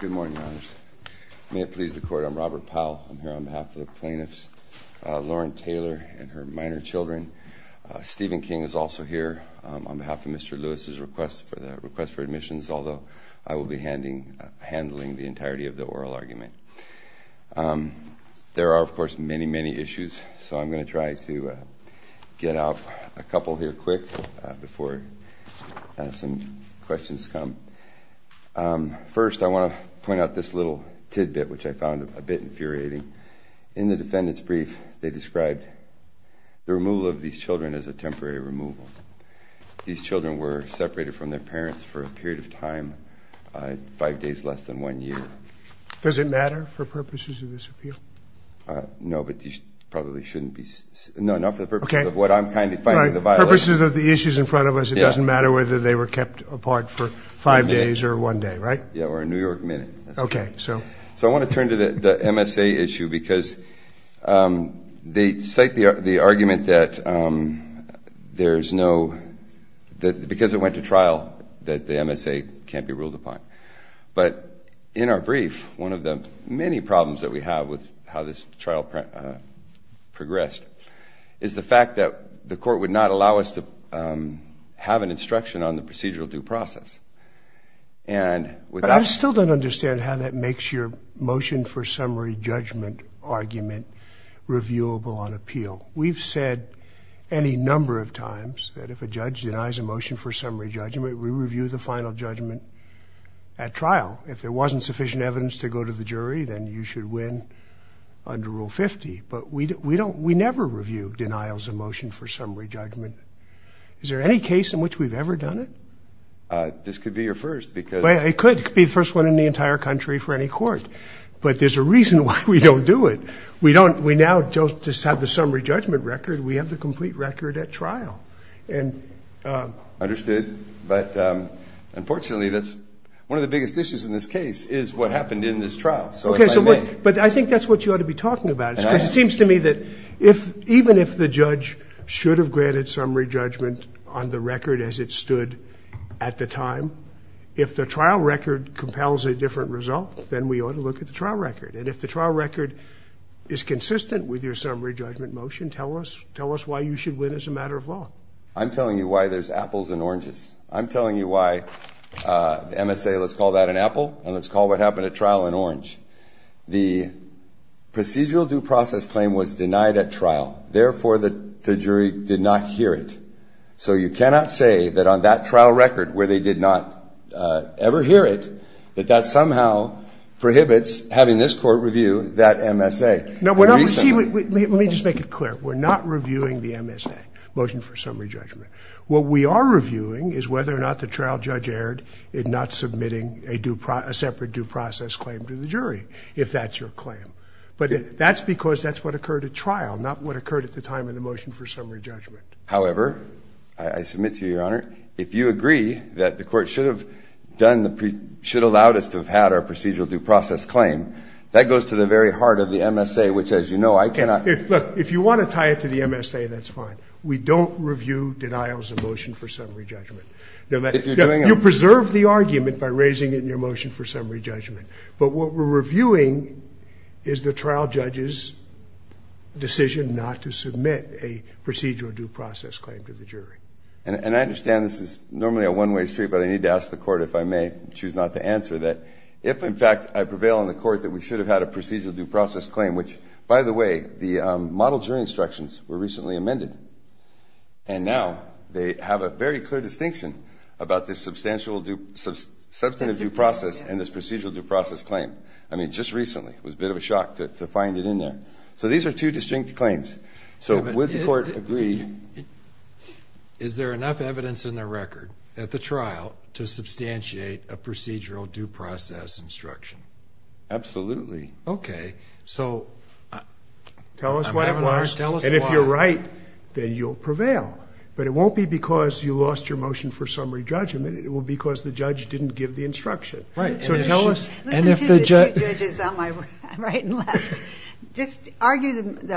Good morning, Your Honors. May it please the Court, I'm Robert Powell. I'm here on behalf of the plaintiffs, Lauren Taylor and her minor children. Stephen King is also here on behalf of Mr. Lewis's request for admissions, although I will be handling the entirety of the oral argument. There are, of course, many, many issues. So I'm going to try to get out a couple here quick before some questions come. First, I want to point out this little tidbit, which I found a bit infuriating. In the defendant's brief, they described the removal of these children as a temporary removal. These children were separated from their parents for a period of time, five days less than one year. Does it matter for purposes of this appeal? No, but you probably shouldn't be. No, not for the purposes of what I'm kind of finding the violation. For the purposes of the issues in front of us, it doesn't matter whether they were kept apart for five days or one day, right? Yeah, or a New York minute. OK, so? So I want to turn to the MSA issue, because they cite the argument that there's no, because it went to trial, that the MSA can't be ruled upon. But in our brief, one of the many problems that we have with how this trial progressed is the fact that the court would not allow us to have an instruction on the procedural due process. And with that, I still don't understand how that makes your motion for summary judgment argument reviewable on appeal. We've said any number of times that if a judge denies a motion for summary judgment, we review the final judgment at trial. If there wasn't sufficient evidence to go to the jury, then you should win under Rule 50. But we never review denials of motion for summary judgment. Is there any case in which we've ever done it? This could be your first, because. It could. It could be the first one in the entire country for any court. But there's a reason why we don't do it. We now just have the summary judgment record. We have the complete record at trial. Understood. But unfortunately, that's one of the biggest issues in this case is what happened in this trial. So if I may. But I think that's what you ought to be talking about. Because it seems to me that even if the judge should have granted summary judgment on the record as it stood at the time, if the trial record compels a different result, then we ought to look at the trial record. And if the trial record is consistent with your summary judgment motion, tell us why you should win as a matter of law. I'm telling you why there's apples and oranges. I'm telling you why MSA, let's call that an apple, and let's call what happened at trial an orange. The procedural due process claim was denied at trial. Therefore, the jury did not hear it. So you cannot say that on that trial record, where they did not ever hear it, that that somehow prohibits having this court review that MSA. Now, let me just make it clear. We're not reviewing the MSA, motion for summary judgment. What we are reviewing is whether or not the trial judge erred in not submitting a separate due process claim to the jury, if that's your claim. But that's because that's what occurred at trial, not what occurred at the time of the motion for summary judgment. However, I submit to you, Your Honor, if you agree that the court should have done the pre, should have allowed us to have had our procedural due process claim, that goes to the very heart of the MSA, which, as you know, I cannot. If you want to tie it to the MSA, that's fine. We don't review denials of motion for summary judgment. You preserve the argument by raising it in your motion for summary judgment. But what we're reviewing is the trial judge's decision not to submit a procedural due process claim to the jury. And I understand this is normally a one-way street, but I need to ask the court, if I may, choose not to answer that. If, in fact, I prevail on the court that we should have had a procedural due process claim, which, by the way, the model jury instructions were recently amended. And now they have a very clear distinction about this substantive due process and this procedural due process claim. I mean, just recently. It was a bit of a shock to find it in there. So these are two distinct claims. So would the court agree? Is there enough evidence in the record at the trial to substantiate a procedural due process instruction? Absolutely. OK. So I'm having a hard time. Tell us why, and if you're right, then you'll prevail. But it won't be because you lost your motion for summary judgment. It will be because the judge didn't give the instruction. Right. So tell us. Listen to the two judges on my right and left. Just argue the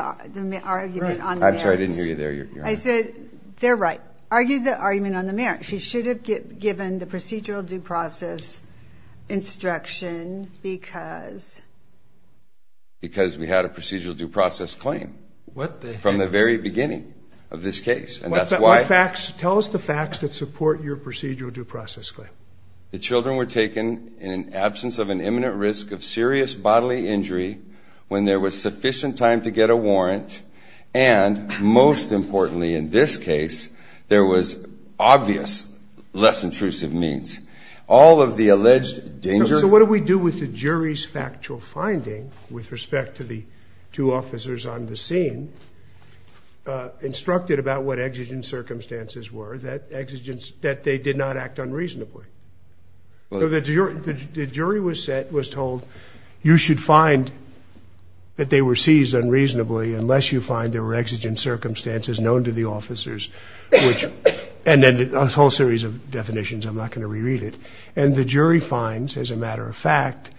argument on the merits. I'm sorry, I didn't hear you there. I said, they're right. Argue the argument on the merits. She should have given the procedural due process instruction because? Because we had a procedural due process claim. What the heck? That's the beginning of this case. And that's why. Tell us the facts that support your procedural due process claim. The children were taken in an absence of an imminent risk of serious bodily injury when there was sufficient time to get a warrant. And most importantly, in this case, there was obvious less intrusive means. All of the alleged danger. So what do we do with the jury's factual finding with respect to the two officers on the scene? Instructed about what exigent circumstances were that they did not act unreasonably. The jury was told, you should find that they were seized unreasonably unless you find there were exigent circumstances known to the officers. And then a whole series of definitions. I'm not going to reread it. And the jury finds, as a matter of fact,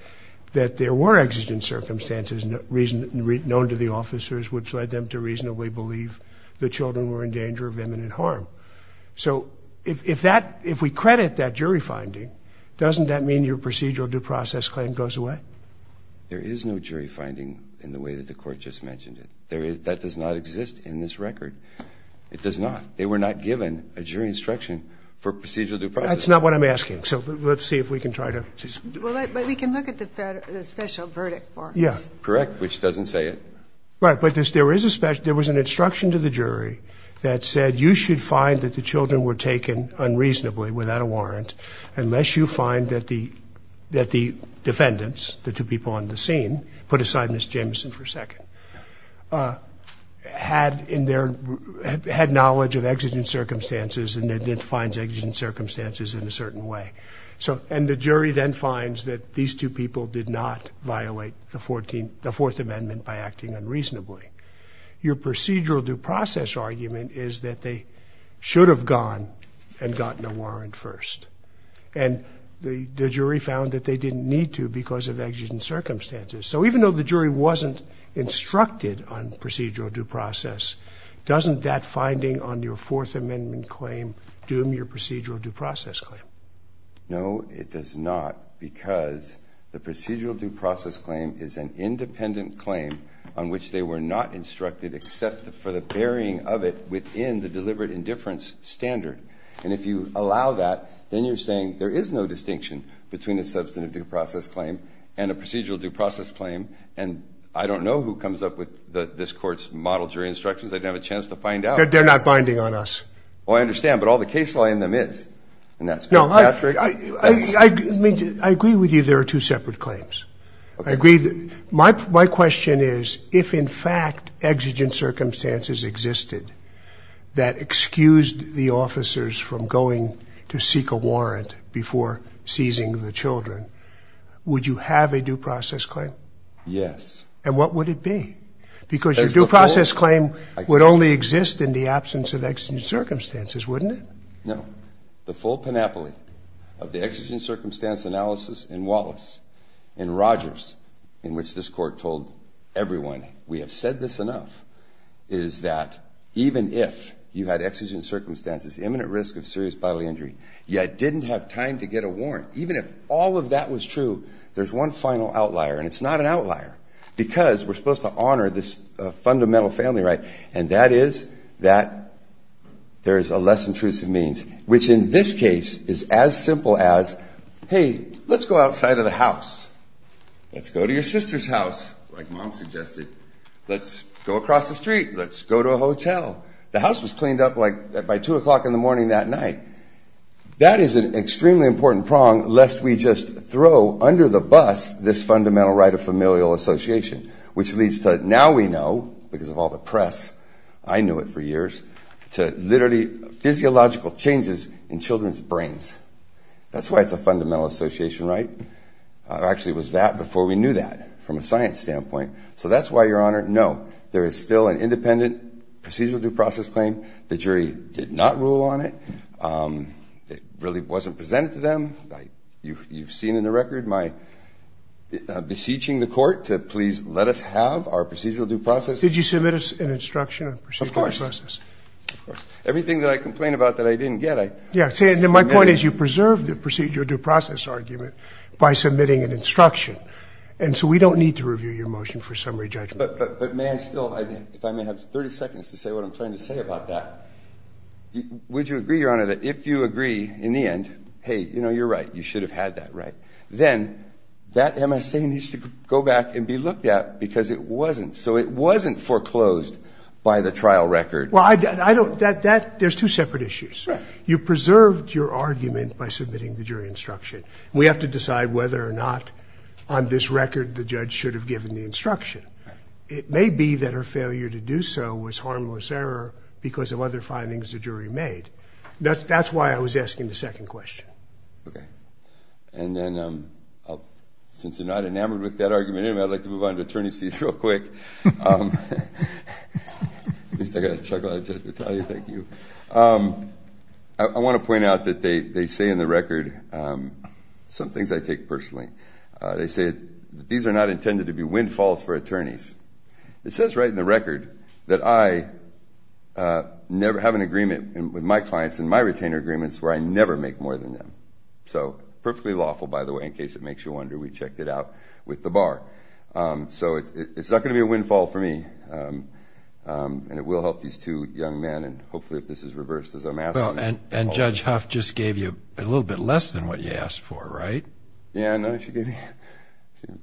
that there were exigent circumstances known to the officers, which led them to reasonably believe the children were in danger of imminent harm. So if we credit that jury finding, doesn't that mean your procedural due process claim goes away? There is no jury finding in the way that the court just mentioned it. That does not exist in this record. It does not. They were not given a jury instruction for procedural due process. That's not what I'm asking. So let's see if we can try to just do that. But we can look at the special verdict for us. Yeah. Correct, which doesn't say it. Right, but there was an instruction to the jury that said, you should find that the children were taken unreasonably, without a warrant, unless you find that the defendants, the two people on the scene, put aside Ms. Jameson for a second, had knowledge of exigent circumstances and identified exigent circumstances in a certain way. And the jury then finds that these two people did not violate the Fourth Amendment by acting unreasonably. Your procedural due process argument is that they should have gone and gotten a warrant first. And the jury found that they didn't need to because of exigent circumstances. So even though the jury wasn't instructed on procedural due process, doesn't that finding on your Fourth Amendment claim doom your procedural due process claim? No, it does not. Because the procedural due process claim is an independent claim on which they were not instructed except for the burying of it within the deliberate indifference standard. And if you allow that, then you're saying there is no distinction between a substantive due process claim and a procedural due process claim. And I don't know who comes up with this court's model jury instructions. I didn't have a chance to find out. They're not binding on us. Well, I understand. But all the case law in them is. And that's Patrick. I agree with you there are two separate claims. I agree that my question is, if in fact exigent circumstances existed that excused the officers from going to seek a warrant before seizing the children, would you have a due process claim? Yes. And what would it be? Because your due process claim would only exist in the absence of exigent circumstances, wouldn't it? No. The full panoply of the exigent circumstance analysis in Wallace, in Rogers, in which this court told everyone we have said this enough, is that even if you had exigent circumstances, imminent risk of serious bodily injury, yet didn't have time to get a warrant, even if all of that was true, there's one final outlier. And it's not an outlier. Because we're supposed to honor this fundamental family right. And that is that there is a less intrusive means, which in this case is as simple as, hey, let's go outside of the house. Let's go to your sister's house, like mom suggested. Let's go across the street. Let's go to a hotel. The house was cleaned up by 2 o'clock in the morning that night. That is an extremely important prong, lest we just throw under the bus this fundamental right of familial association, which leads to now we know, because of all the press, I knew it for years, to literally physiological changes in children's brains. That's why it's a fundamental association right. Actually, it was that before we knew that from a science standpoint. So that's why, Your Honor, no, there is still an independent procedural due process claim. The jury did not rule on it. It really wasn't presented to them. You've seen in the record my beseeching the court to please let us have our procedural due process. Did you submit an instruction on procedural due process? Of course. Everything that I complain about that I didn't get, I submitted. My point is you preserved the procedural due process argument by submitting an instruction. And so we don't need to review your motion for summary judgment. But may I still, if I may have 30 seconds to say what I'm trying to say about that. Would you agree, Your Honor, that if you agree in the end, hey, you're right, you should have had that right, then that MSA needs to go back and be looked at because it wasn't. So it wasn't foreclosed by the trial record. Well, there's two separate issues. You preserved your argument by submitting the jury instruction. We have to decide whether or not on this record the judge should have given the instruction. It may be that her failure to do so was harmless error because of other findings the jury made. That's why I was asking the second question. OK. And then since you're not enamored with that argument, I'd like to move on to attorney's fees real quick. At least I got a chuckle out of Judge Battaglia. Thank you. I want to point out that they say in the record some things I take personally. They say that these are not intended to be windfalls for attorneys. It says right in the record that I never have an agreement with my clients in my retainer agreements where I never make more than them. So perfectly lawful, by the way, in case it makes you wonder. We checked it out with the bar. So it's not going to be a windfall for me. And it will help these two young men. And hopefully, if this is reversed as I'm asked. And Judge Huff just gave you a little bit less than what you asked for, right? Yeah, no, she gave me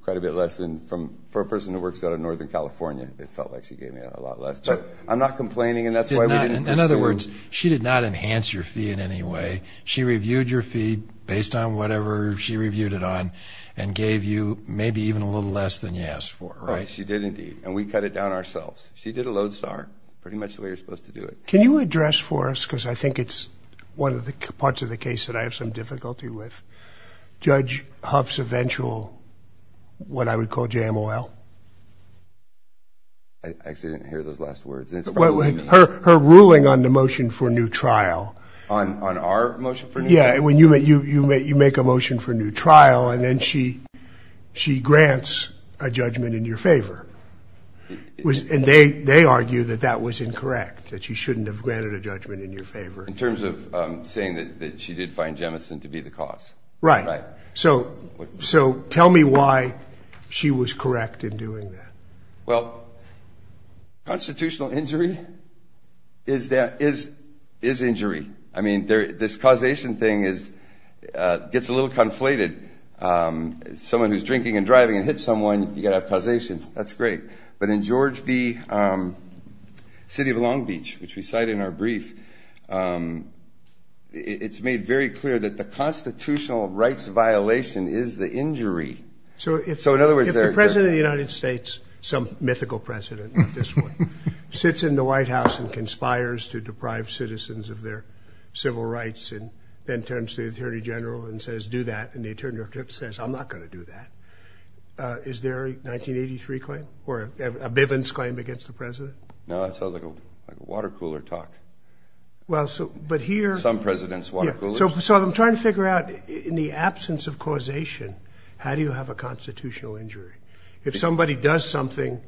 quite a bit less. And for a person who works out of Northern California, it felt like she gave me a lot less. But I'm not complaining. And that's why we didn't pursue. In other words, she did not enhance your fee in any way. She reviewed your fee based on whatever she reviewed it on and gave you maybe even a little less than you asked for, right? She did, indeed. And we cut it down ourselves. She did a lodestar, pretty much the way you're supposed to do it. Can you address for us, because I think it's one of the parts of the case that I have some difficulty with, Judge Huff's eventual what I would call jam oil? I actually didn't hear those last words. Her ruling on the motion for new trial. On our motion for new trial? Yeah, when you make a motion for new trial, and then she grants a judgment in your favor. And they argue that that was incorrect, that she shouldn't have granted a judgment in your favor. In terms of saying that she did find jemison to be the cause. Right. So tell me why she was correct in doing that. Well, constitutional injury is injury. I mean, this causation thing gets a little conflated. Someone who's drinking and driving and hits someone, you've got to have causation. That's great. But in George B. City of Long Beach, which we cite in our brief, it's made very clear that the constitutional rights violation is the injury. So in other words, there's a president of the United States, some mythical president at this point, sits in the White House and conspires to deprive citizens of their civil rights and then turns to the attorney general and says, do that. And the attorney general says, I'm not going to do that. Is there a 1983 claim or a Bivens claim against the president? No, that sounds like a water cooler talk. Well, so but here. Some president's water coolers. So I'm trying to figure out, in the absence of causation, how do you have a constitutional injury? If somebody does something,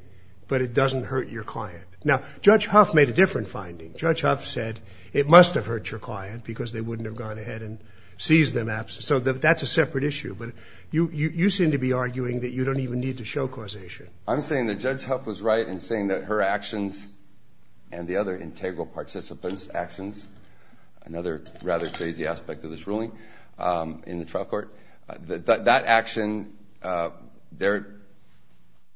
but it doesn't hurt your client. Now, Judge Huff made a different finding. Judge Huff said, it must have hurt your client because they wouldn't have gone ahead and seized them. So that's a separate issue. But you seem to be arguing that you don't even need to show causation. I'm saying that Judge Huff was right in saying that her actions and the other integral participants' actions, another rather crazy aspect of this ruling in the trial court, that action, their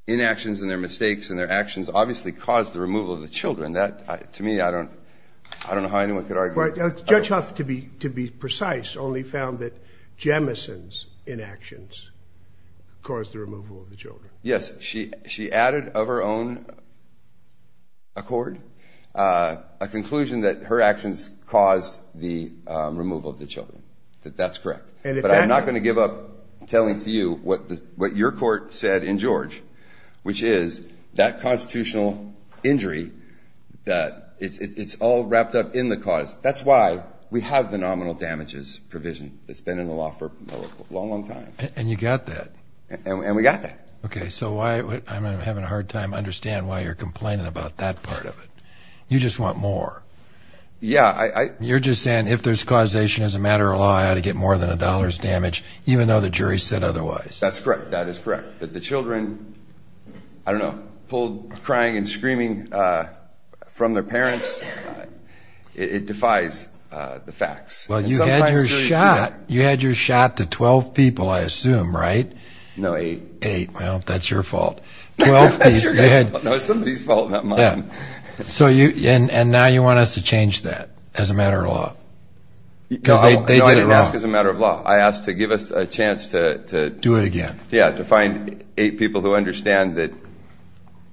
inactions and their mistakes and their actions obviously caused the removal of the children. To me, I don't know how anyone could argue. Judge Huff, to be precise, only found that Jemison's inactions caused the removal of the children. Yes, she added of her own accord a conclusion that her actions caused the removal of the children, that that's correct. But I'm not going to give up telling to you what your court said in George, which is that constitutional injury, that it's all wrapped up in the cause. That's why we have the nominal damages provision that's been in the law for a long, long time. And you got that. And we got that. OK, so I'm having a hard time understand why you're complaining about that part of it. You just want more. Yeah, I- You're just saying, if there's causation as a matter of law, I ought to get more than a dollar's damage, even though the jury said otherwise. That's correct. That is correct. That the children, I don't know, pulled crying and screaming from their parents, it defies the facts. Well, you had your shot. You had your shot to 12 people, I assume, right? No, eight. Eight, well, that's your fault. 12 people, go ahead. No, it's somebody's fault, not mine. So you, and now you want us to change that as a matter of law? Because they did it wrong. You know, I didn't ask as a matter of law. I asked to give us a chance to- Do it again. Yeah, to find eight people who understand that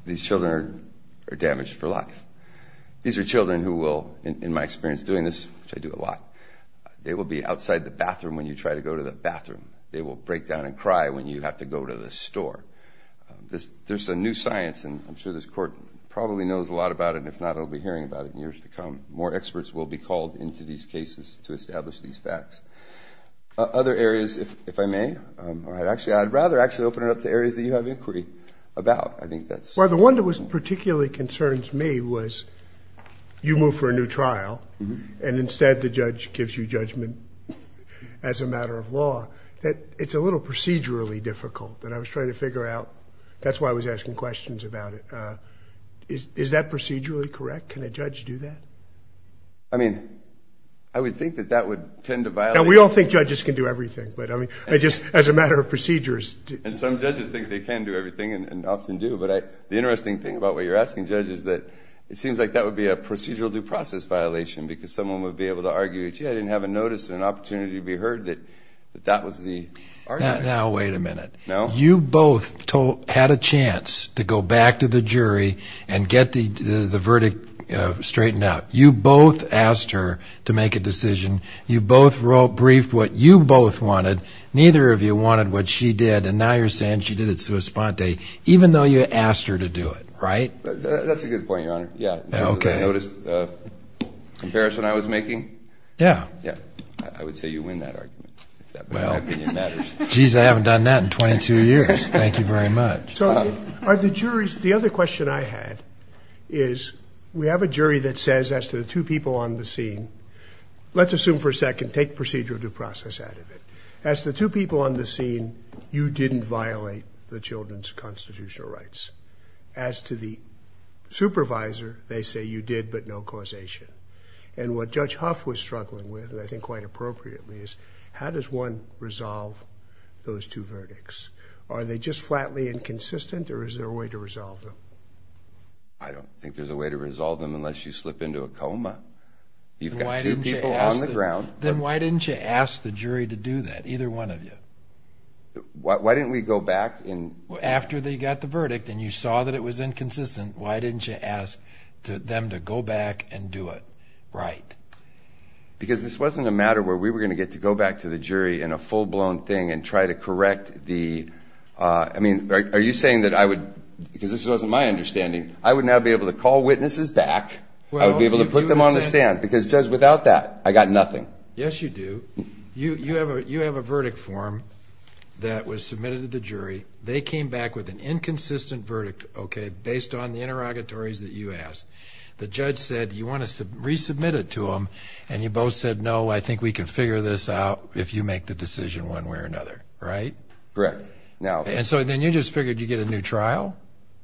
these children are damaged for life. These are children who will, in my experience doing this, which I do a lot, they will be outside the bathroom when you try to go to the bathroom. They will break down and cry when you have to go to the store. There's a new science, and I'm sure this court probably knows a lot about it, and if not, it'll be hearing about it in years to come. More experts will be called into these cases to establish these facts. Other areas, if I may, or I'd rather actually open it up to areas that you have inquiry about. I think that's- Well, the one that particularly concerns me was you move for a new trial, and instead the judge gives you judgment as a matter of law. It's a little procedurally difficult that I was trying to figure out. That's why I was asking questions about it. Is that procedurally correct? Can a judge do that? I mean, I would think that that would tend to violate- Now, we all think judges can do everything, but I mean, I just, as a matter of procedures- And some judges think they can do everything and often do, but the interesting thing about what you're asking judges is that it seems like that would be a procedural due process violation, because someone would be able to argue, gee, I didn't have a notice and an opportunity to be heard that that was the argument. Now, wait a minute. You both had a chance to go back to the jury and get the verdict straightened out. You both asked her to make a decision. You both briefed what you both wanted. Neither of you wanted what she did, and now you're saying she did it sua sponte, even though you asked her to do it, right? That's a good point, Your Honor. Yeah, I noticed the comparison I was making. Yeah. Yeah, I would say you win that argument, if that opinion matters. Geez, I haven't done that in 22 years. Thank you very much. Are the juries, the other question I had is, we have a jury that says, as to the two people on the scene, let's assume for a second, take procedural due process out of it. As the two people on the scene, you didn't violate the children's constitutional rights. As to the supervisor, they say you did, but no causation. And what Judge Huff was struggling with, and I think quite appropriately, is how does one resolve those two verdicts? Are they just flatly inconsistent, or is there a way to resolve them? I don't think there's a way to resolve them unless you slip into a coma. You've got two people on the ground. Then why didn't you ask the jury to do that, either one of you? Why didn't we go back and? After they got the verdict, and you saw that it was inconsistent, why didn't you ask them to go back and do it right? Because this wasn't a matter where we were gonna get to go back to the jury in a full-blown thing, and try to correct the, I mean, are you saying that I would, because this wasn't my understanding, I would now be able to call witnesses back, I would be able to put them on the stand, because, Judge, without that, I got nothing. Yes, you do. You have a verdict form that was submitted to the jury. They came back with an inconsistent verdict, based on the interrogatories that you asked. The judge said, you wanna resubmit it to them, and you both said, no, I think we can figure this out if you make the decision one way or another, right? Correct. And so then you just figured you'd get a new trial?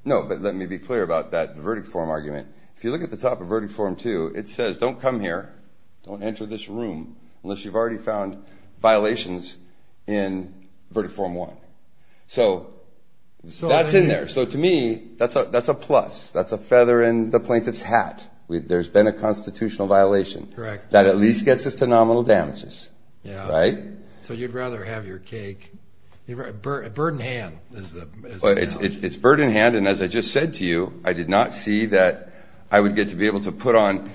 No, but let me be clear about that verdict form argument. If you look at the top of verdict form two, it says, don't come here, don't enter this room, unless you've already found violations in verdict form one. So that's in there. So to me, that's a plus, that's a feather in the plaintiff's hat. There's been a constitutional violation that at least gets us to nominal damages, right? So you'd rather have your cake, a bird in hand is the analogy. It's bird in hand, and as I just said to you, I did not see that I would get to be able to put on,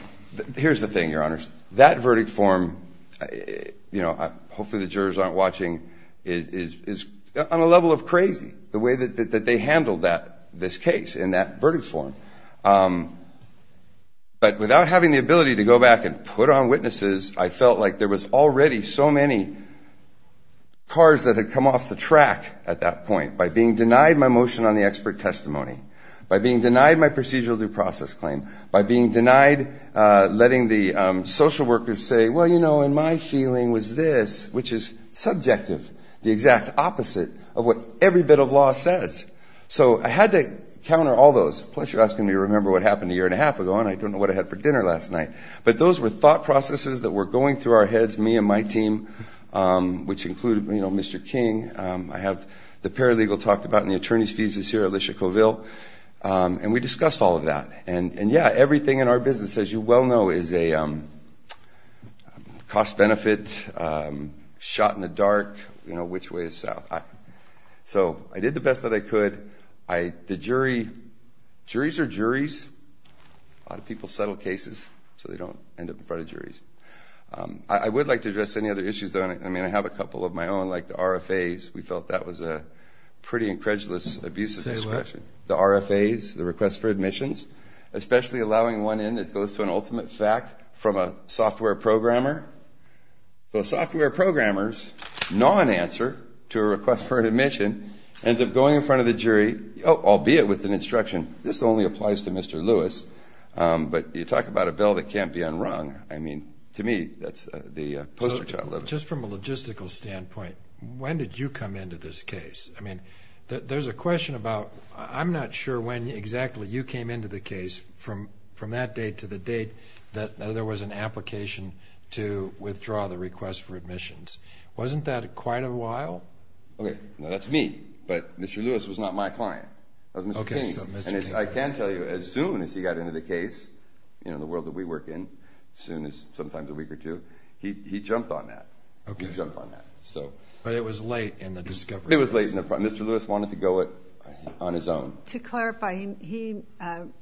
here's the thing, Your Honors, that verdict form, hopefully the jurors aren't watching, is on a level of crazy, the way that they handled this case in that verdict form. But without having the ability to go back and put on witnesses, I felt like there was already so many cars that had come off the track at that point by being denied my motion on the expert testimony, by being denied my procedural due process claim, by being denied letting the social workers say, well, you know, and my feeling was this, which is subjective, the exact opposite of what every bit of law says. So I had to counter all those, plus you're asking me to remember what happened a year and a half ago, and I don't know what I had for dinner last night. But those were thought processes that were going through our heads, me and my team, which included, you know, Mr. King. I have the paralegal talked about and the attorney's thesis here, Alicia Covill. And we discussed all of that. And yeah, everything in our business, as you well know, is a cost-benefit, shot in the dark, you know, which way is south. So I did the best that I could. The jury, juries are juries. A lot of people settle cases, so they don't end up in front of juries. I would like to address any other issues, though. I mean, I have a couple of my own, like the RFAs. We felt that was a pretty incredulous abuse of discretion. The RFAs, the request for admissions, especially allowing one in that goes to an ultimate fact from a software programmer. So a software programmer's non-answer to a request for an admission ends up going in front of the jury, albeit with an instruction, this only applies to Mr. Lewis. But you talk about a bell that can't be unrung. I mean, to me, that's the poster child. Just from a logistical standpoint, when did you come into this case? I mean, there's a question about, I'm not sure when exactly you came into the case from that date to the date that there was an application to withdraw the request for admissions. Wasn't that quite a while? Okay, now that's me, but Mr. Lewis was not my client. That was Mr. King, and I can tell you, as soon as he got into the case, you know, the world that we work in, as soon as sometimes a week or two, he jumped on that, he jumped on that, so. But it was late in the discovery phase. It was late, and Mr. Lewis wanted to go on his own. To clarify, he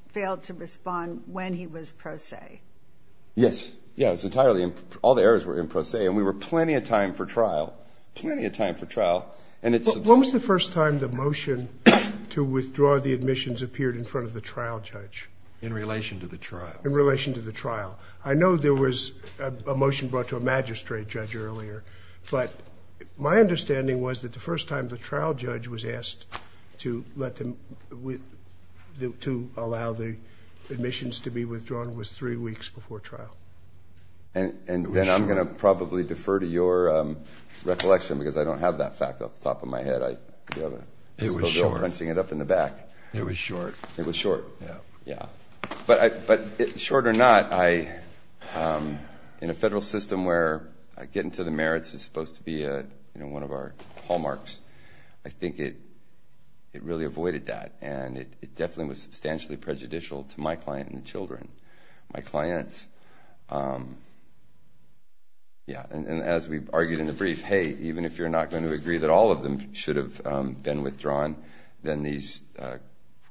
failed to respond when he was pro se. Yes, yeah, it's entirely, all the errors were in pro se, and we were plenty of time for trial, plenty of time for trial, and it's. When was the first time the motion to withdraw the admissions appeared in front of the trial judge? In relation to the trial. In relation to the trial. I know there was a motion brought to a magistrate judge earlier, but my understanding was that the first time the trial judge was asked to allow the admissions to be withdrawn was three weeks before trial. And then I'm going to probably defer to your recollection, because I don't have that fact off the top of my head. I do have a little bill crunching it up in the back. It was short. It was short, yeah. But short or not, in a federal system where getting to the merits is supposed to be one of our hallmarks, I think it really avoided that, and it definitely was substantially prejudicial to my client and the children. My clients. Yeah, and as we've argued in the brief, hey, even if you're not going to agree that all of them should have been withdrawn, then these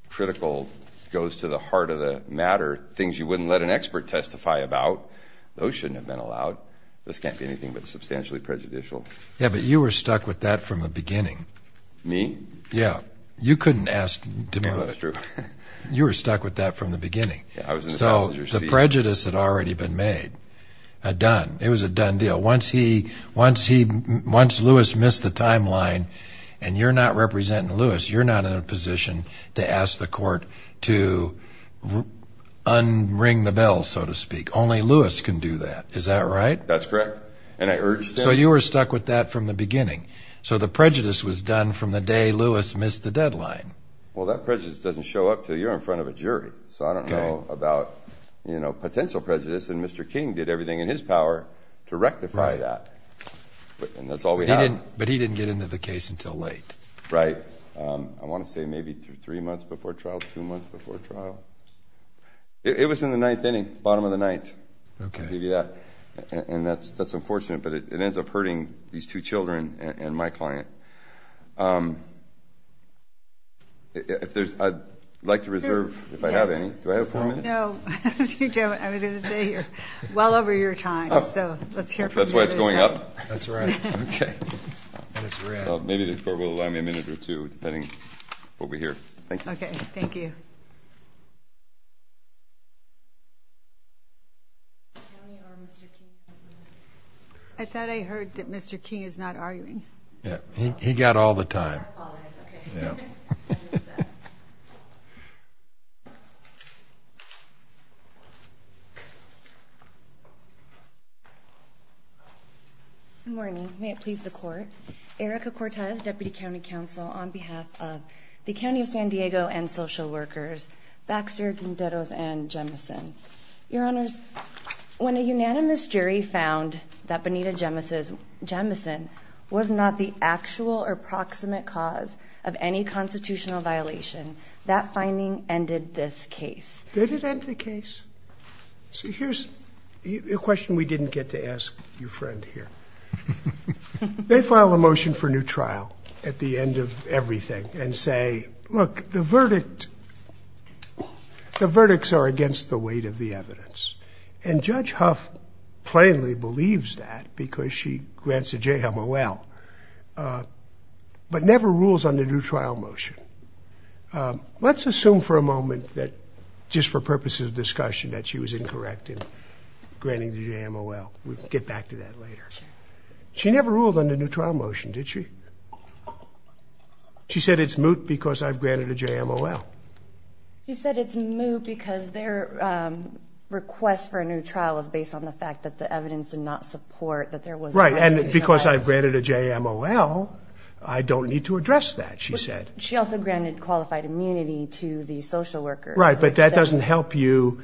critical, goes to the heart of the matter, things you wouldn't let an expert testify about, those shouldn't have been allowed. This can't be anything but substantially prejudicial. Yeah, but you were stuck with that from the beginning. Me? Yeah, you couldn't ask DeMoss. That's true. You were stuck with that from the beginning. I was in the passenger seat. So the prejudice had already been made, done. It was a done deal. Once he, once Lewis missed the timeline, and you're not representing Lewis, you're not in a position to ask the court to un-ring the bell, so to speak. Only Lewis can do that. Is that right? That's correct. And I urged him. So you were stuck with that from the beginning. So the prejudice was done from the day Lewis missed the deadline. Well, that prejudice doesn't show up till you're in front of a jury. So I don't know about potential prejudice, and Mr. King did everything in his power to rectify that. And that's all we have. But he didn't get into the case until late. Right. I want to say maybe three months before trial, two months before trial. It was in the ninth inning, bottom of the ninth. Okay. Maybe that, and that's unfortunate, but it ends up hurting these two children and my client. If there's, I'd like to reserve, if I have any, do I have four minutes? No, you don't. I was going to say you're well over your time. So let's hear from you. That's why it's going up. That's right. Okay. Maybe the court will allow me a minute or two, depending what we hear. Thank you. Okay, thank you. I thought I heard that Mr. King is not arguing. Yeah, he got all the time. Oh, that's okay. Yeah. Okay. Good morning. May it please the court. Erica Cortez, Deputy County Counsel on behalf of the County of San Diego and Social Workers, Baxter, Quinteros, and Jemison. Your honors, when a unanimous jury found that Benita Jemison was not the actual or proximate cause of any constitutional violation, that finding ended this case. Did it end the case? So here's a question we didn't get to ask your friend here. They file a motion for new trial at the end of everything and say, look, the verdict, the verdicts are against the weight of the evidence. And Judge Huff plainly believes that because she grants a JMOL, but never rules on the new trial motion. Let's assume for a moment that just for purposes of discussion that she was incorrect in granting the JMOL. We'll get back to that later. She never ruled on the new trial motion, did she? She said it's moot because I've granted a JMOL. She said it's moot because their request for a new trial is based on the fact that the evidence did not support that there was- Right, and because I've granted a JMOL, I don't need to address that, she said. She also granted qualified immunity to the social worker. Right, but that doesn't help you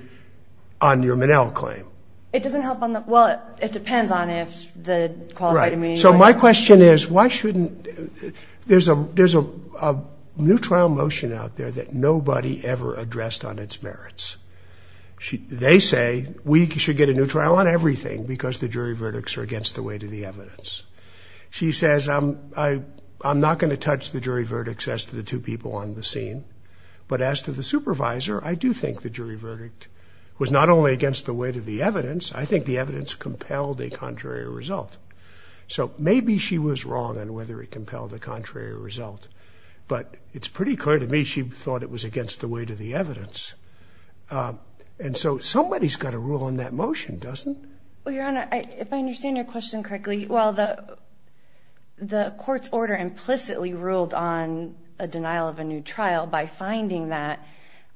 on your Monell claim. It doesn't help on the, well, it depends on if the qualified immunity- So my question is, why shouldn't, there's a new trial motion out there that nobody ever addressed on its merits. They say we should get a new trial on everything because the jury verdicts are against the weight of the evidence. She says, I'm not gonna touch the jury verdicts as to the two people on the scene, but as to the supervisor, I do think the jury verdict was not only against the weight of the evidence, I think the evidence compelled a contrary result. So maybe she was wrong on whether it compelled a contrary result, but it's pretty clear to me she thought it was against the weight of the evidence. And so somebody's gotta rule on that motion, doesn't? Well, Your Honor, if I understand your question correctly, well, the court's order implicitly ruled on a denial of a new trial by finding that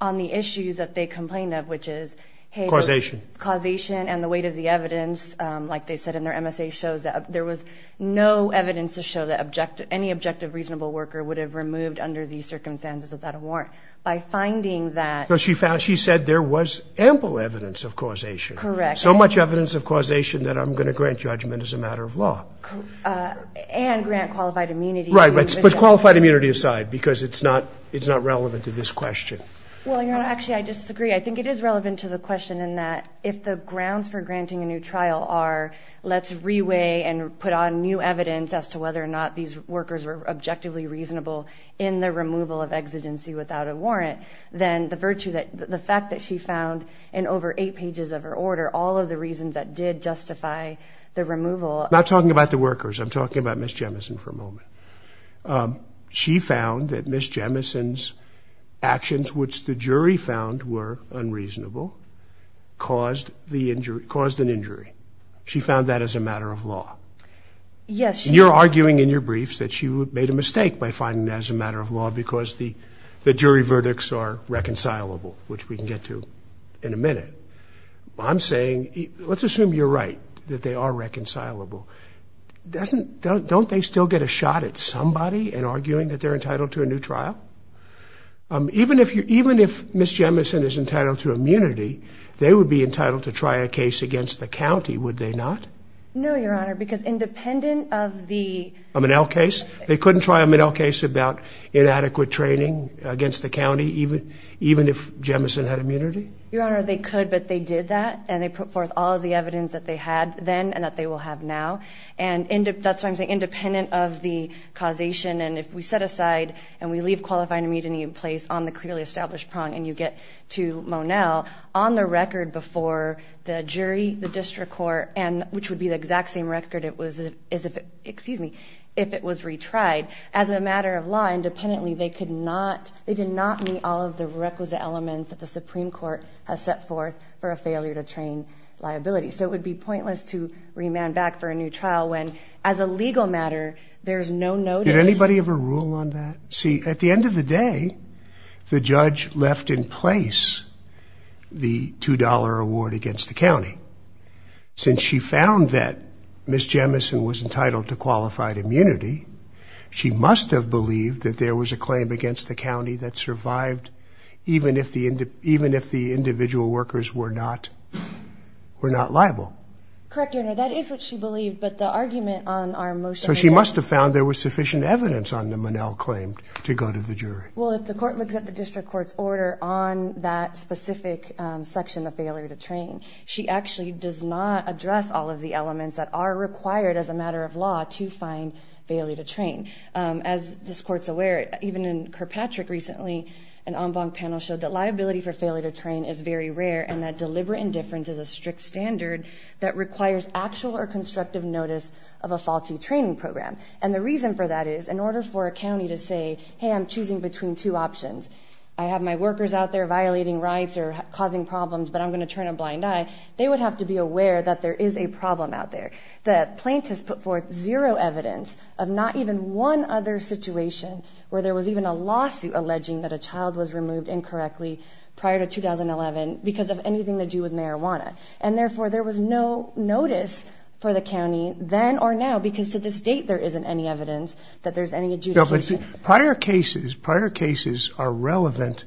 on the issues that they complained of, which is, hey- Causation. Causation and the weight of the evidence, like they said in their MSA shows that there was no evidence to show that any objective reasonable worker would have removed under these circumstances without a warrant. By finding that- So she found, she said there was ample evidence of causation. Correct. So much evidence of causation that I'm gonna grant judgment as a matter of law. And grant qualified immunity. Right, but qualified immunity aside, because it's not relevant to this question. Well, Your Honor, actually I disagree. I think it is relevant to the question in that if the grounds for granting a new trial are let's reweigh and put on new evidence as to whether or not these workers were objectively reasonable in the removal of exigency without a warrant, then the virtue that, the fact that she found in over eight pages of her order all of the reasons that did justify the removal- Not talking about the workers. I'm talking about Ms. Jemison for a moment. She found that Ms. Jemison's actions, which the jury found were unreasonable, caused the injury, caused an injury. She found that as a matter of law. Yes- And you're arguing in your briefs that she made a mistake by finding that as a matter of law because the jury verdicts are reconcilable, which we can get to in a minute. I'm saying, let's assume you're right, that they are reconcilable. Doesn't, don't they still get a shot at somebody in arguing that they're entitled to a new trial? Even if you, even if Ms. Jemison is entitled to immunity, they would be entitled to try a case against the county, would they not? No, Your Honor, because independent of the- A Minnell case? They couldn't try a Minnell case about inadequate training against the county, even if Jemison had immunity? Your Honor, they could, but they did that, and they put forth all of the evidence that they had then and that they will have now, and that's why I'm saying independent of the causation, and if we set aside and we leave qualifying immunity in place on the clearly established prong and you get to Monell, on the record before the jury, the district court, and which would be the exact same record as if, excuse me, if it was retried. As a matter of law, independently, they could not, they did not meet all of the requisite elements that the Supreme Court has set forth for a failure to train liability, so it would be pointless to remand back for a new trial when, as a legal matter, there's no notice. Did anybody ever rule on that? See, at the end of the day, the judge left in place the $2 award against the county. Since she found that Ms. Jemison was entitled to qualified immunity, she must have believed that there was a claim against the county that survived, even if the individual workers were not liable. Correct, Your Honor, that is what she believed, but the argument on our motion- So she must have found there was sufficient evidence on the Monell claim to go to the jury. Well, if the court looks at the district court's order on that specific section, the failure to train, she actually does not address all of the elements that are required as a matter of law to find failure to train. As this court's aware, even in Kirkpatrick recently, an en banc panel showed that liability for failure to train is very rare, and that deliberate indifference is a strict standard that requires actual or constructive notice of a faulty training program. And the reason for that is, in order for a county to say, hey, I'm choosing between two options, I have my workers out there violating rights or causing problems, but I'm gonna turn a blind eye, they would have to be aware that there is a problem out there. The plaintiffs put forth zero evidence of not even one other situation where there was even a lawsuit alleging that a child was removed incorrectly prior to 2011 because of anything to do with marijuana. And therefore, there was no notice for the county then or now, because to this date, there isn't any evidence that there's any adjudication. Prior cases, prior cases are relevant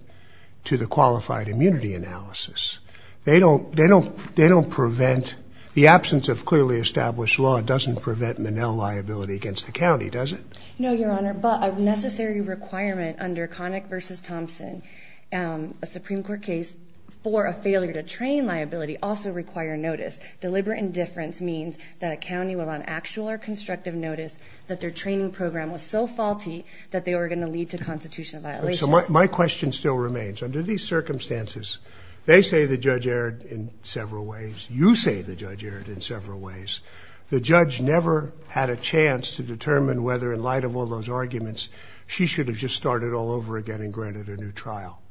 to the qualified immunity analysis. They don't prevent, the absence of clearly established law doesn't prevent Manel liability against the county, does it? No, Your Honor, but a necessary requirement under Connick v. Thompson, a Supreme Court case for a failure to train liability also require notice. Deliberate indifference means that a county will on actual or constructive notice that their training program was so faulty that they were gonna lead to constitutional violations. My question still remains. Under these circumstances, they say the judge erred in several ways. You say the judge erred in several ways. The judge never had a chance to determine whether in light of all those arguments, she should have just started all over again and granted a new trial.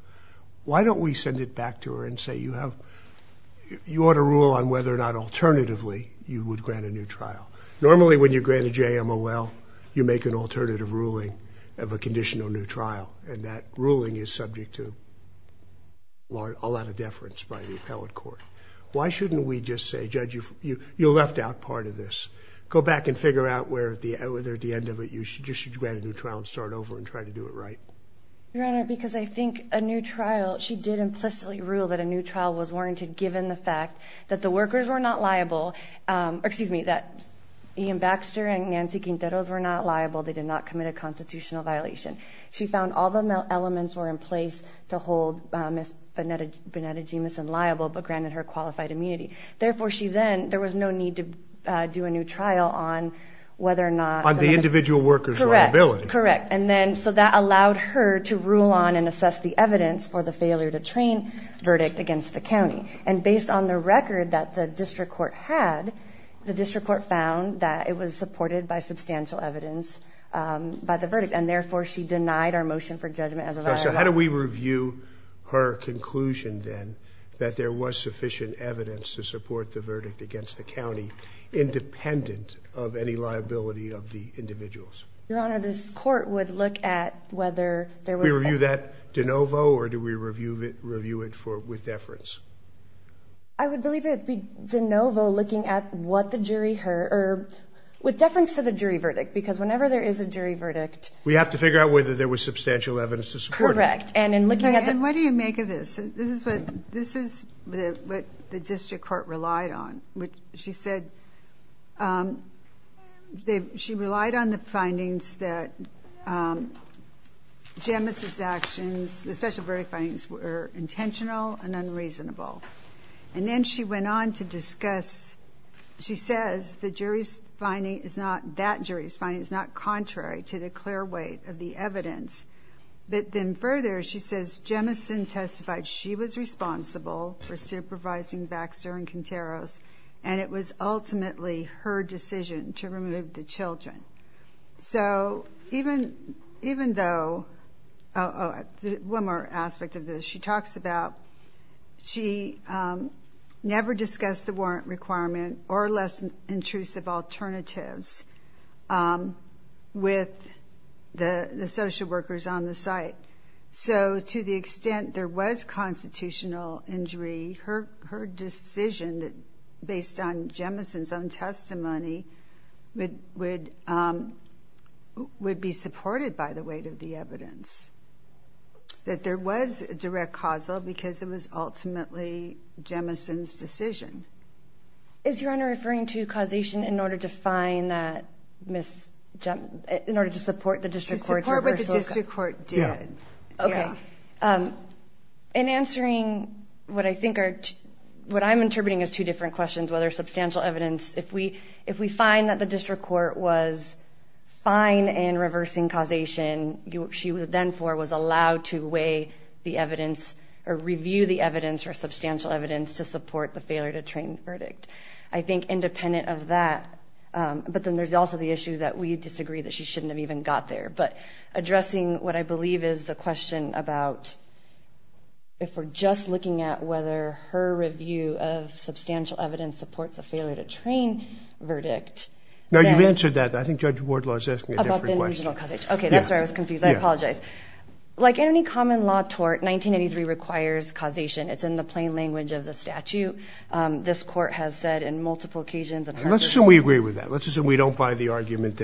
Why don't we send it back to her and say, you ought to rule on whether or not alternatively, you would grant a new trial. Normally, when you grant a JMOL, you make an alternative ruling of a conditional new trial, and that ruling is subject to a lot of deference by the appellate court. Why shouldn't we just say, judge, you left out part of this. Go back and figure out whether at the end of it, you should just grant a new trial and start over and try to do it right. Your Honor, because I think a new trial, she did implicitly rule that a new trial was warranted given the fact that the workers were not liable, or excuse me, that Ian Baxter and Nancy Quinteros were not liable, they did not commit a constitutional violation. She found all the elements were in place to hold Ms. Bonetta Jameson liable, but granted her qualified immunity. Therefore, she then, there was no need to do a new trial on whether or not- On the individual worker's liability. Correct, correct. And then, so that allowed her to rule on and assess the evidence for the failure to train verdict against the county. And based on the record that the district court had, the district court found that it was supported by substantial evidence by the verdict. And therefore, she denied our motion for judgment as a viable- that there was sufficient evidence to support the verdict against the county, independent of any liability of the individuals. Your Honor, this court would look at whether there was- We review that de novo, or do we review it with deference? I would believe it would be de novo, looking at what the jury heard, or with deference to the jury verdict, because whenever there is a jury verdict- We have to figure out whether there was substantial evidence to support it. Correct, and in looking at the- Okay, and what do you make of this? This is what the district court relied on. She said- She relied on the findings that Jemison's actions, the special verdict findings, were intentional and unreasonable. And then she went on to discuss- She says the jury's finding is not- That jury's finding is not contrary to the clear weight of the evidence. But then further, she says Jemison testified she was responsible for supervising Baxter and Quinteros, and it was ultimately her decision to remove the children. So even though- Oh, one more aspect of this. She talks about she never discussed the warrant requirement or less intrusive alternatives with the social workers on the site. So to the extent there was constitutional injury, her decision, based on Jemison's own testimony, would be supported by the weight of the evidence. That there was a direct causal because it was ultimately Jemison's decision. Is Your Honor referring to causation in order to support the district court's reversal- Yeah. Okay. In answering what I think are, what I'm interpreting as two different questions, whether substantial evidence, if we find that the district court was fine in reversing causation, she then for was allowed to weigh the evidence or review the evidence or substantial evidence to support the failure to train the verdict. I think independent of that, but then there's also the issue that we disagree that she shouldn't have even got there. But addressing what I believe is the question about if we're just looking at whether her review of substantial evidence supports a failure to train verdict. No, you've answered that. I think Judge Wardlaw is asking a different question. About the original causation. Okay, that's where I was confused. I apologize. Like any common law tort, 1983 requires causation. It's in the plain language of the statute. This court has said in multiple occasions- Let's assume we agree with that. Let's assume we don't buy the argument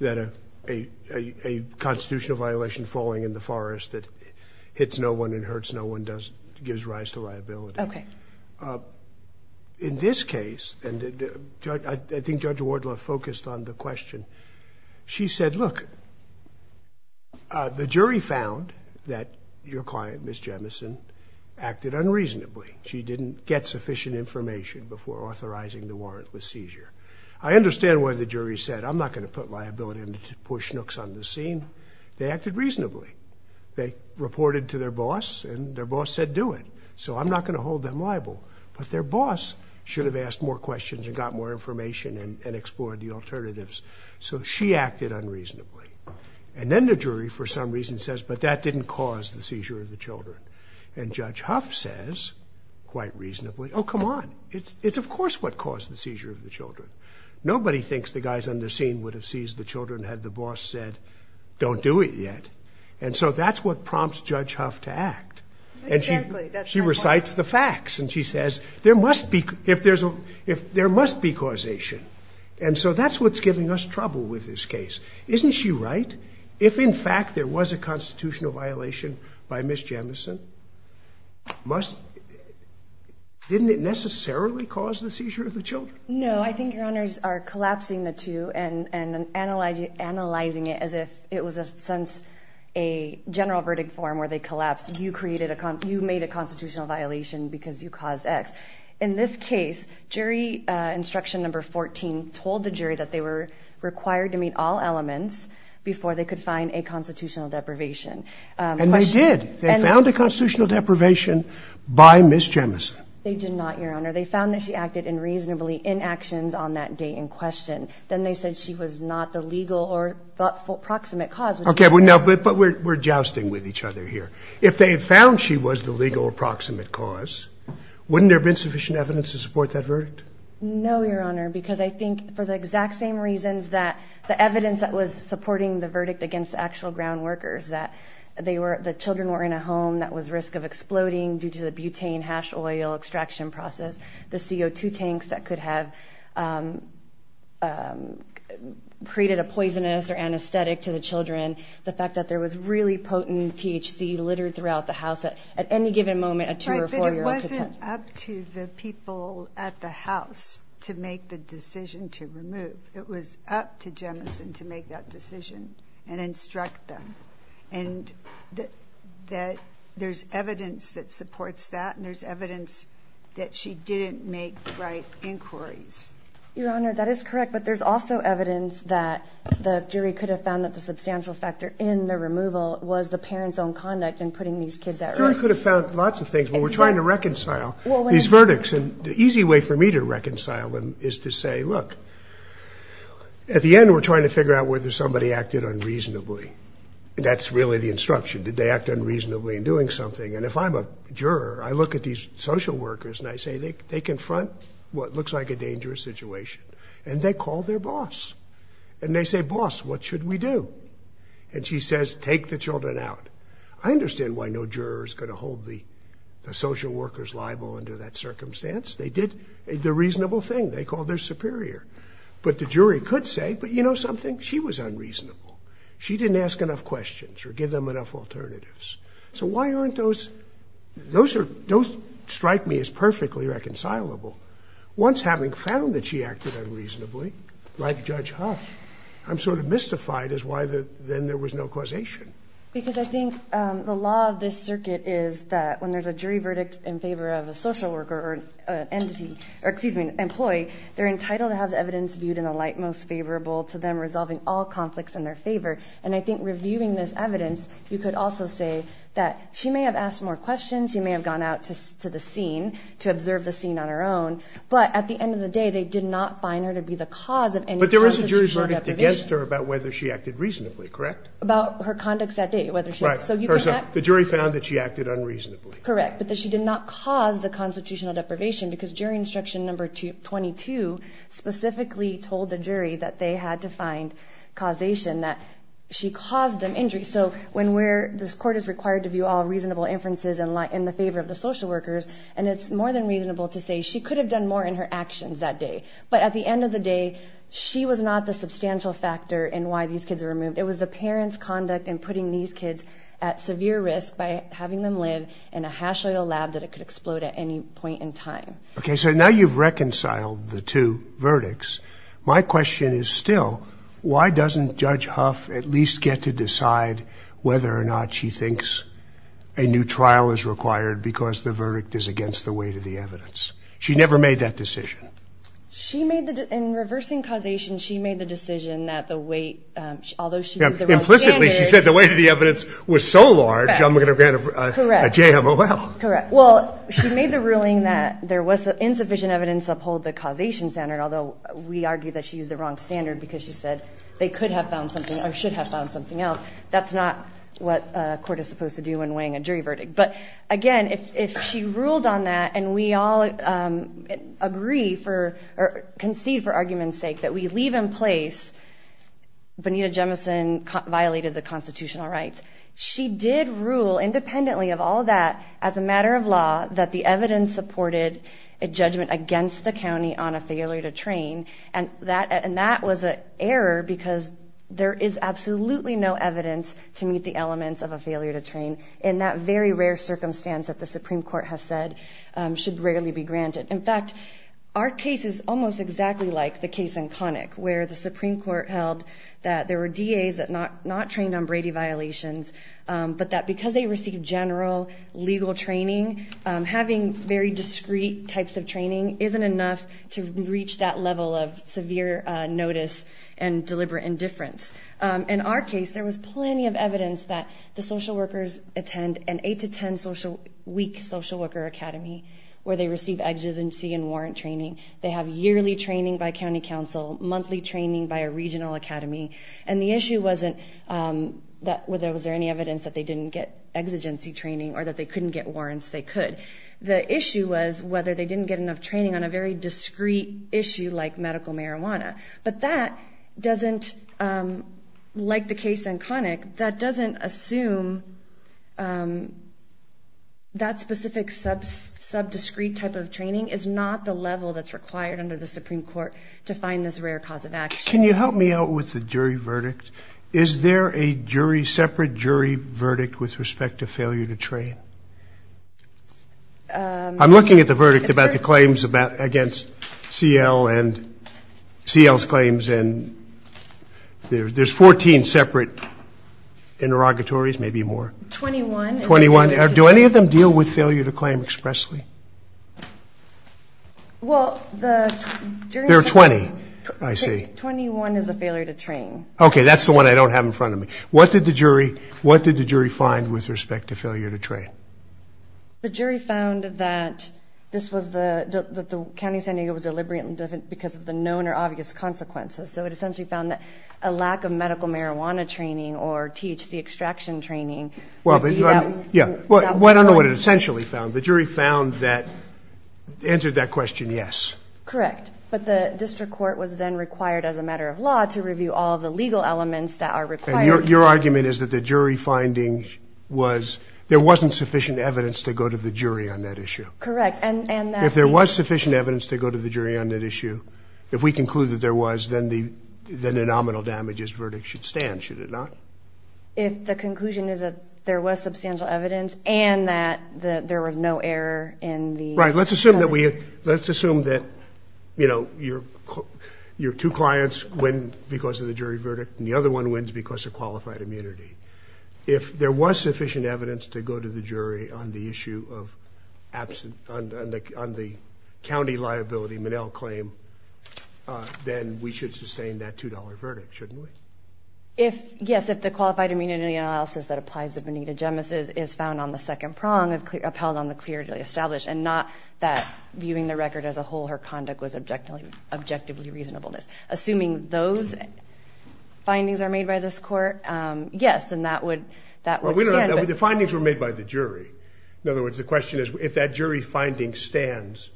that a constitutional violation falling in the forest that hits no one and hurts no one does gives rise to liability. Okay. In this case, and I think Judge Wardlaw focused on the question. She said, look, the jury found that your client, Ms. Jemison, acted unreasonably. She didn't get sufficient information before authorizing the warrantless seizure. I understand why the jury said, I'm not going to put liability on the poor schnooks on the scene. They acted reasonably. They reported to their boss and their boss said, do it. So I'm not going to hold them liable. But their boss should have asked more questions and got more information and explored the alternatives. So she acted unreasonably. And then the jury, for some reason says, but that didn't cause the seizure of the children. And Judge Huff says, quite reasonably, oh, come on. It's of course what caused the seizure of the children. Nobody thinks the guys on the scene would have seized the children had the boss said, don't do it yet. And so that's what prompts Judge Huff to act. And she recites the facts. And she says, there must be causation. And so that's what's giving us trouble with this case. Isn't she right? If in fact there was a constitutional violation by Ms. Jemison, didn't it necessarily cause the seizure of the children? No, I think your honors are collapsing the two and analyzing it as if it was a sense, a general verdict form where they collapsed. You created a, you made a constitutional violation because you caused X. In this case, jury instruction number 14 told the jury that they were required to meet all elements before they could find a constitutional deprivation. And they did. They found a constitutional deprivation by Ms. Jemison. They did not, your honor. They found that she acted in reasonably inactions on that day in question. Then they said she was not the legal or approximate cause. Okay, but we're jousting with each other here. If they found she was the legal approximate cause, wouldn't there have been sufficient evidence to support that verdict? No, your honor, because I think for the exact same reasons that the evidence that was supporting the verdict against actual ground workers, that the children were in a home that was risk of exploding due to the butane hash oil extraction process, the CO2 tanks that could have created a poisonous or anesthetic to the children, the fact that there was really potent THC littered throughout the house that at any given moment, a two or four year old could- Right, but it wasn't up to the people at the house to make the decision to remove. It was up to Jemison to make that decision and instruct them. And that there's evidence that supports that and there's evidence that she didn't make the right inquiries. Your honor, that is correct, but there's also evidence that the jury could have found that the substantial factor in the removal was the parents' own conduct in putting these kids at risk. The jury could have found lots of things, but we're trying to reconcile these verdicts. And the easy way for me to reconcile them is to say, look, at the end, we're trying to figure out whether somebody acted unreasonably. And that's really the instruction. Did they act unreasonably in doing something? And if I'm a juror, I look at these social workers and I say, they confront what looks like a dangerous situation. And they call their boss and they say, boss, what should we do? And she says, take the children out. I understand why no juror is gonna hold the social workers liable under that circumstance. They did the reasonable thing. They called their superior, but the jury could say, but you know something? She was unreasonable. She didn't ask enough questions or give them enough alternatives. So why aren't those, those strike me as perfectly reconcilable. Once having found that she acted unreasonably, like Judge Huff, I'm sort of mystified as why then there was no causation. Because I think the law of this circuit is that when there's a jury verdict in favor of a social worker or an entity, or excuse me, employee, they're entitled to have the evidence viewed in the light most favorable to them resolving all conflicts in their favor. And I think reviewing this evidence, you could also say that she may have asked more questions. She may have gone out to the scene to observe the scene on her own. But at the end of the day, they did not find her to be the cause of any constitutional deprivation. But there was a jury verdict against her about whether she acted reasonably, correct? About her conducts that day, whether she, so you can act. The jury found that she acted unreasonably. Correct, but that she did not cause the constitutional deprivation because jury instruction number 22 specifically told the jury that they had to find causation that she caused them injury. So when we're, this court is required to view all reasonable inferences in the favor of the social workers. And it's more than reasonable to say she could have done more in her actions that day. But at the end of the day, she was not the substantial factor in why these kids were removed. It was the parents' conduct in putting these kids at severe risk by having them live in a hash oil lab that it could explode at any point in time. Okay, so now you've reconciled the two verdicts. My question is still, why doesn't Judge Huff at least get to decide whether or not she thinks a new trial is required because the verdict is against the weight of the evidence? She never made that decision. She made the, in reversing causation, she made the decision that the weight, although she used the wrong standard. Implicitly, she said the weight of the evidence Correct, well, she made the ruling that there was insufficient evidence to uphold the causation standard, although we argue that she used the wrong standard because she said they could have found something or should have found something else. That's not what a court is supposed to do when weighing a jury verdict. But again, if she ruled on that and we all agree for or concede for argument's sake that we leave in place, Bonita Jemison violated the constitutional rights. She did rule independently of all that as a matter of law that the evidence supported a judgment against the county on a failure to train. And that was an error because there is absolutely no evidence to meet the elements of a failure to train in that very rare circumstance that the Supreme Court has said should rarely be granted. In fact, our case is almost exactly like the case in Connick where the Supreme Court held that there were DAs that not trained on Brady violations, but that because they received general legal training, having very discreet types of training isn't enough to reach that level of severe notice and deliberate indifference. In our case, there was plenty of evidence that the social workers attend an eight to 10 week social worker academy where they receive agency and warrant training. They have yearly training by county council, monthly training by a regional academy. And the issue wasn't that was there any evidence that they didn't get exigency training or that they couldn't get warrants, they could. The issue was whether they didn't get enough training on a very discreet issue like medical marijuana. But that doesn't, like the case in Connick, that doesn't assume that specific sub-discreet type of training is not the level that's required under the Supreme Court to find this rare cause of action. Can you help me out with the jury verdict? Is there a jury, separate jury verdict with respect to failure to train? I'm looking at the verdict about the claims against CL and CL's claims and there's 14 separate interrogatories, maybe more. 21. 21, do any of them deal with failure to claim expressly? Well, the jury- There are 20, I see. 21 is a failure to train. Okay, that's the one I don't have in front of me. What did the jury find with respect to failure to train? The jury found that this was the, that the County of San Diego was deliberate because of the known or obvious consequences. So it essentially found that a lack of medical marijuana training or THC extraction training would be- Yeah, well, I don't know what it essentially found. The jury found that, answered that question, yes. Correct, but the district court was then required as a matter of law to review all of the legal elements that are required- And your argument is that the jury finding was, there wasn't sufficient evidence to go to the jury on that issue. Correct, and that- If there was sufficient evidence to go to the jury on that issue, if we conclude that there was, then the nominal damages verdict should stand, should it not? If the conclusion is that there was substantial evidence and that there was no error in the- Right, let's assume that we, let's assume that, you know, your two clients win because of the jury verdict and the other one wins because of qualified immunity. If there was sufficient evidence to go to the jury on the issue of absent, on the County liability Monell claim, then we should sustain that $2 verdict, shouldn't we? If, yes, if the qualified immunity analysis that applies to Benita Gemesis is found on the second prong of upheld on the clearly established and not that viewing the record as a whole, her conduct was objectively reasonableness. Assuming those findings are made by this court, yes, and that would, that would stand. The findings were made by the jury. In other words, the question is, if that jury finding stands,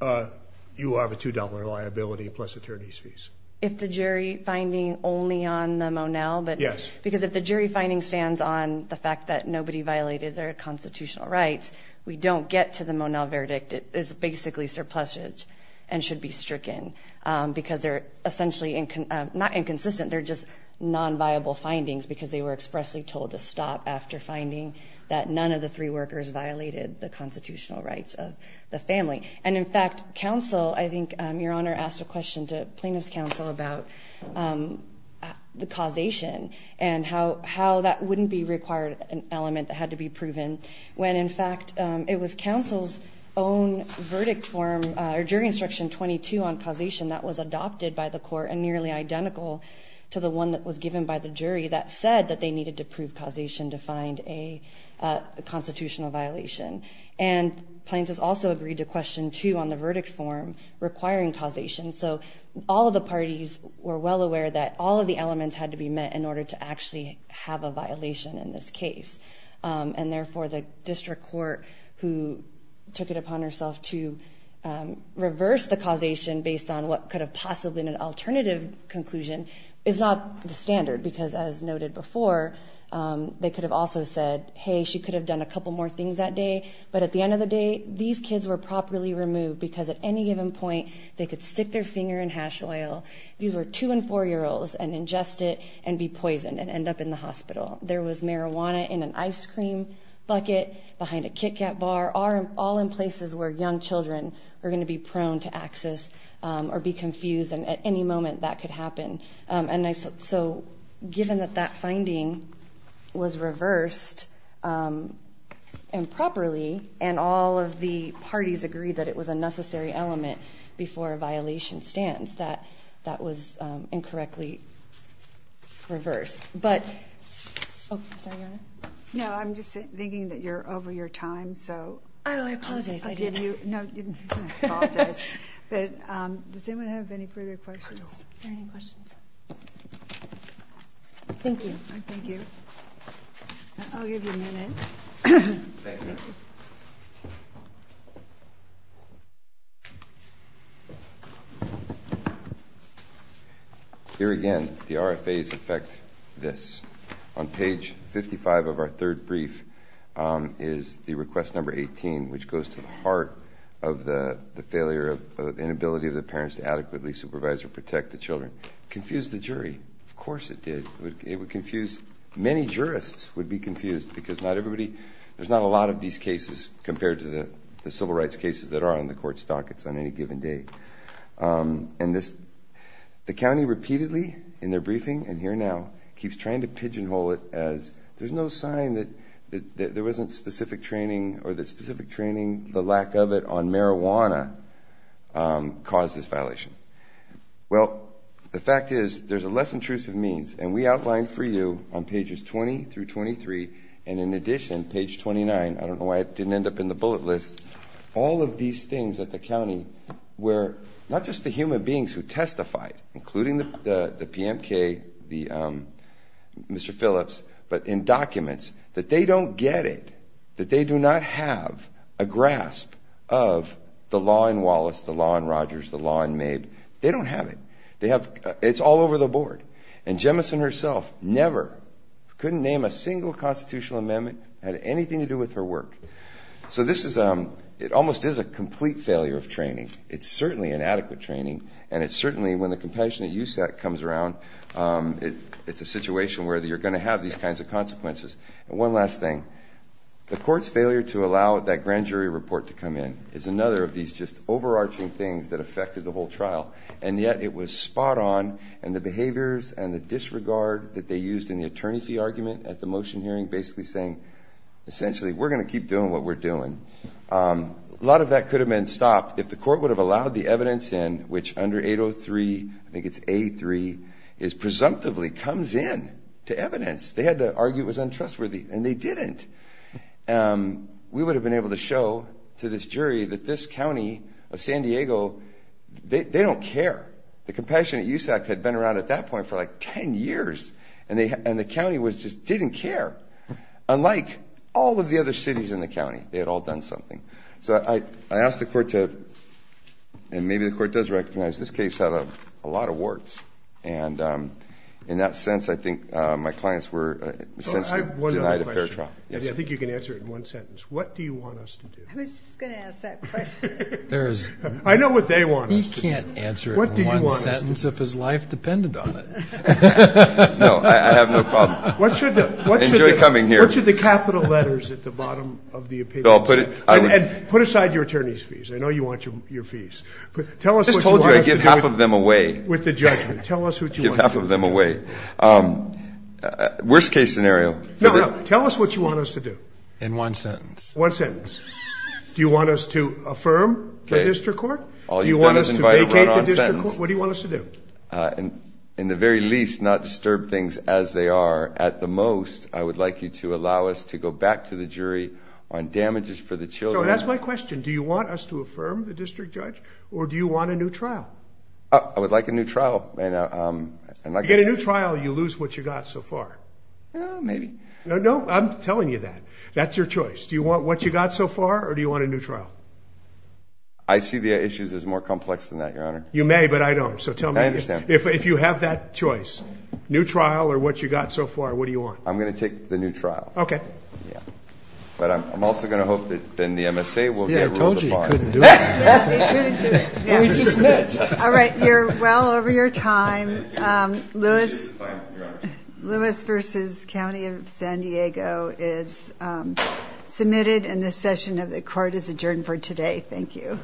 you have a $2 liability plus attorney's fees. If the jury finding only on the Monell, but- Yes. Because if the jury finding stands on the fact that nobody violated their constitutional rights, we don't get to the Monell verdict. It is basically surpluses and should be stricken because they're essentially, not inconsistent, they're just non-viable findings because they were expressly told to stop after finding that none of the three workers violated the constitutional rights of the family. And in fact, counsel, I think your honor asked a question to plaintiff's counsel about the causation and how that wouldn't be required, an element that had to be proven when in fact it was counsel's own verdict form or jury instruction 22 on causation that was adopted by the court and nearly identical to the one that was given by the jury that said that they needed to prove causation to find a constitutional violation. And plaintiff's also agreed to question two on the verdict form requiring causation. So all of the parties were well aware that all of the elements had to be met in order to actually have a violation in this case. And therefore the district court who took it upon herself to reverse the causation based on what could have possibly been an alternative conclusion is not the standard because as noted before, they could have also said, hey, she could have done a couple more things that day. But at the end of the day, these kids were properly removed because at any given point, they could stick their finger in hash oil. These were two and four year olds and ingest it and be poisoned and end up in the hospital. There was marijuana in an ice cream bucket behind a Kit Kat bar, all in places where young children are gonna be prone to access or be confused. And at any moment that could happen. And so given that that finding was reversed improperly and all of the parties agreed that it was a necessary element before a violation stands, that that was incorrectly reversed. But, oh, sorry, go ahead. No, I'm just thinking that you're over your time. So. Oh, I apologize, I didn't. No, you didn't have to apologize. But does anyone have any further questions? Are there any questions? Thank you. Thank you. I'll give you a minute. Thank you. Here again, the RFAs affect this. On page 55 of our third brief is the request number 18, which goes to the heart of the failure of the inability of the parents to adequately supervise or protect the children. Confused the jury. It would confuse, many jurists would be confused because not everybody, there's not a lot of these cases compared to the civil rights cases that are on the court's dockets on any given day. And this, the county repeatedly in their briefing and here now keeps trying to pigeonhole it as there's no sign that there wasn't specific training or that specific training, the lack of it on marijuana caused this violation. Well, the fact is there's a less intrusive means and we outlined for you on pages 20 through 23 and in addition, page 29, I don't know why it didn't end up in the bullet list. All of these things at the county were not just the human beings who testified, including the PMK, Mr. Phillips, but in documents that they don't get it, that they do not have a grasp of the law in Wallace, the law in Rogers, the law in Mabe. They don't have it. It's all over the board. And Jemison herself never, couldn't name a single constitutional amendment had anything to do with her work. So this is, it almost is a complete failure of training. It's certainly inadequate training and it's certainly when the compassionate use that comes around, it's a situation where you're gonna have these kinds of consequences. And one last thing, the court's failure to allow that grand jury report to come in is another of these just overarching things that affected the whole trial. And yet it was spot on and the behaviors and the disregard that they used in the attorney fee argument at the motion hearing, basically saying, essentially we're gonna keep doing what we're doing. A lot of that could have been stopped if the court would have allowed the evidence in which under 803, I think it's A3, is presumptively comes in to evidence. They had to argue it was untrustworthy and they didn't. We would have been able to show to this jury that this county of San Diego, they don't care. The Compassionate Use Act had been around at that point for like 10 years and the county was just, didn't care. Unlike all of the other cities in the county, they had all done something. So I asked the court to, and maybe the court does recognize this case had a lot of warts. And in that sense, I think my clients were essentially denied a fair trial. I think you can answer it in one sentence. What do you want us to do? I was just gonna ask that question. I know what they want us to do. He can't answer it in one sentence if his life depended on it. No, I have no problem. What should the capital letters at the bottom of the opinion? So I'll put it. Put aside your attorney's fees. I know you want your fees. Tell us what you want us to do. I just told you I give half of them away. With the judgment. Tell us what you want us to do. Give half of them away. Worst case scenario. No, no. Tell us what you want us to do. In one sentence. One sentence. Do you want us to affirm the district court? All you've done is invite a run-on sentence. What do you want us to do? In the very least, not disturb things as they are. At the most, I would like you to allow us to go back to the jury on damages for the children. So that's my question. Do you want us to affirm the district judge? Or do you want a new trial? I would like a new trial. If you get a new trial, you lose what you got so far. Maybe. No, I'm telling you that. That's your choice. Do you want what you got so far? Or do you want a new trial? I see the issues as more complex than that, Your Honor. You may, but I don't. So tell me. I understand. If you have that choice, new trial or what you got so far, what do you want? I'm gonna take the new trial. Yeah. But I'm also gonna hope that then the MSA will get rid of the fine. See, I told you he couldn't do it. Yeah, he couldn't do it. Well, he just did. All right, you're well over your time. Lewis. Fine, Your Honor. Lewis versus County of San Diego is submitted and the session of the court is adjourned for today. Thank you. All rise.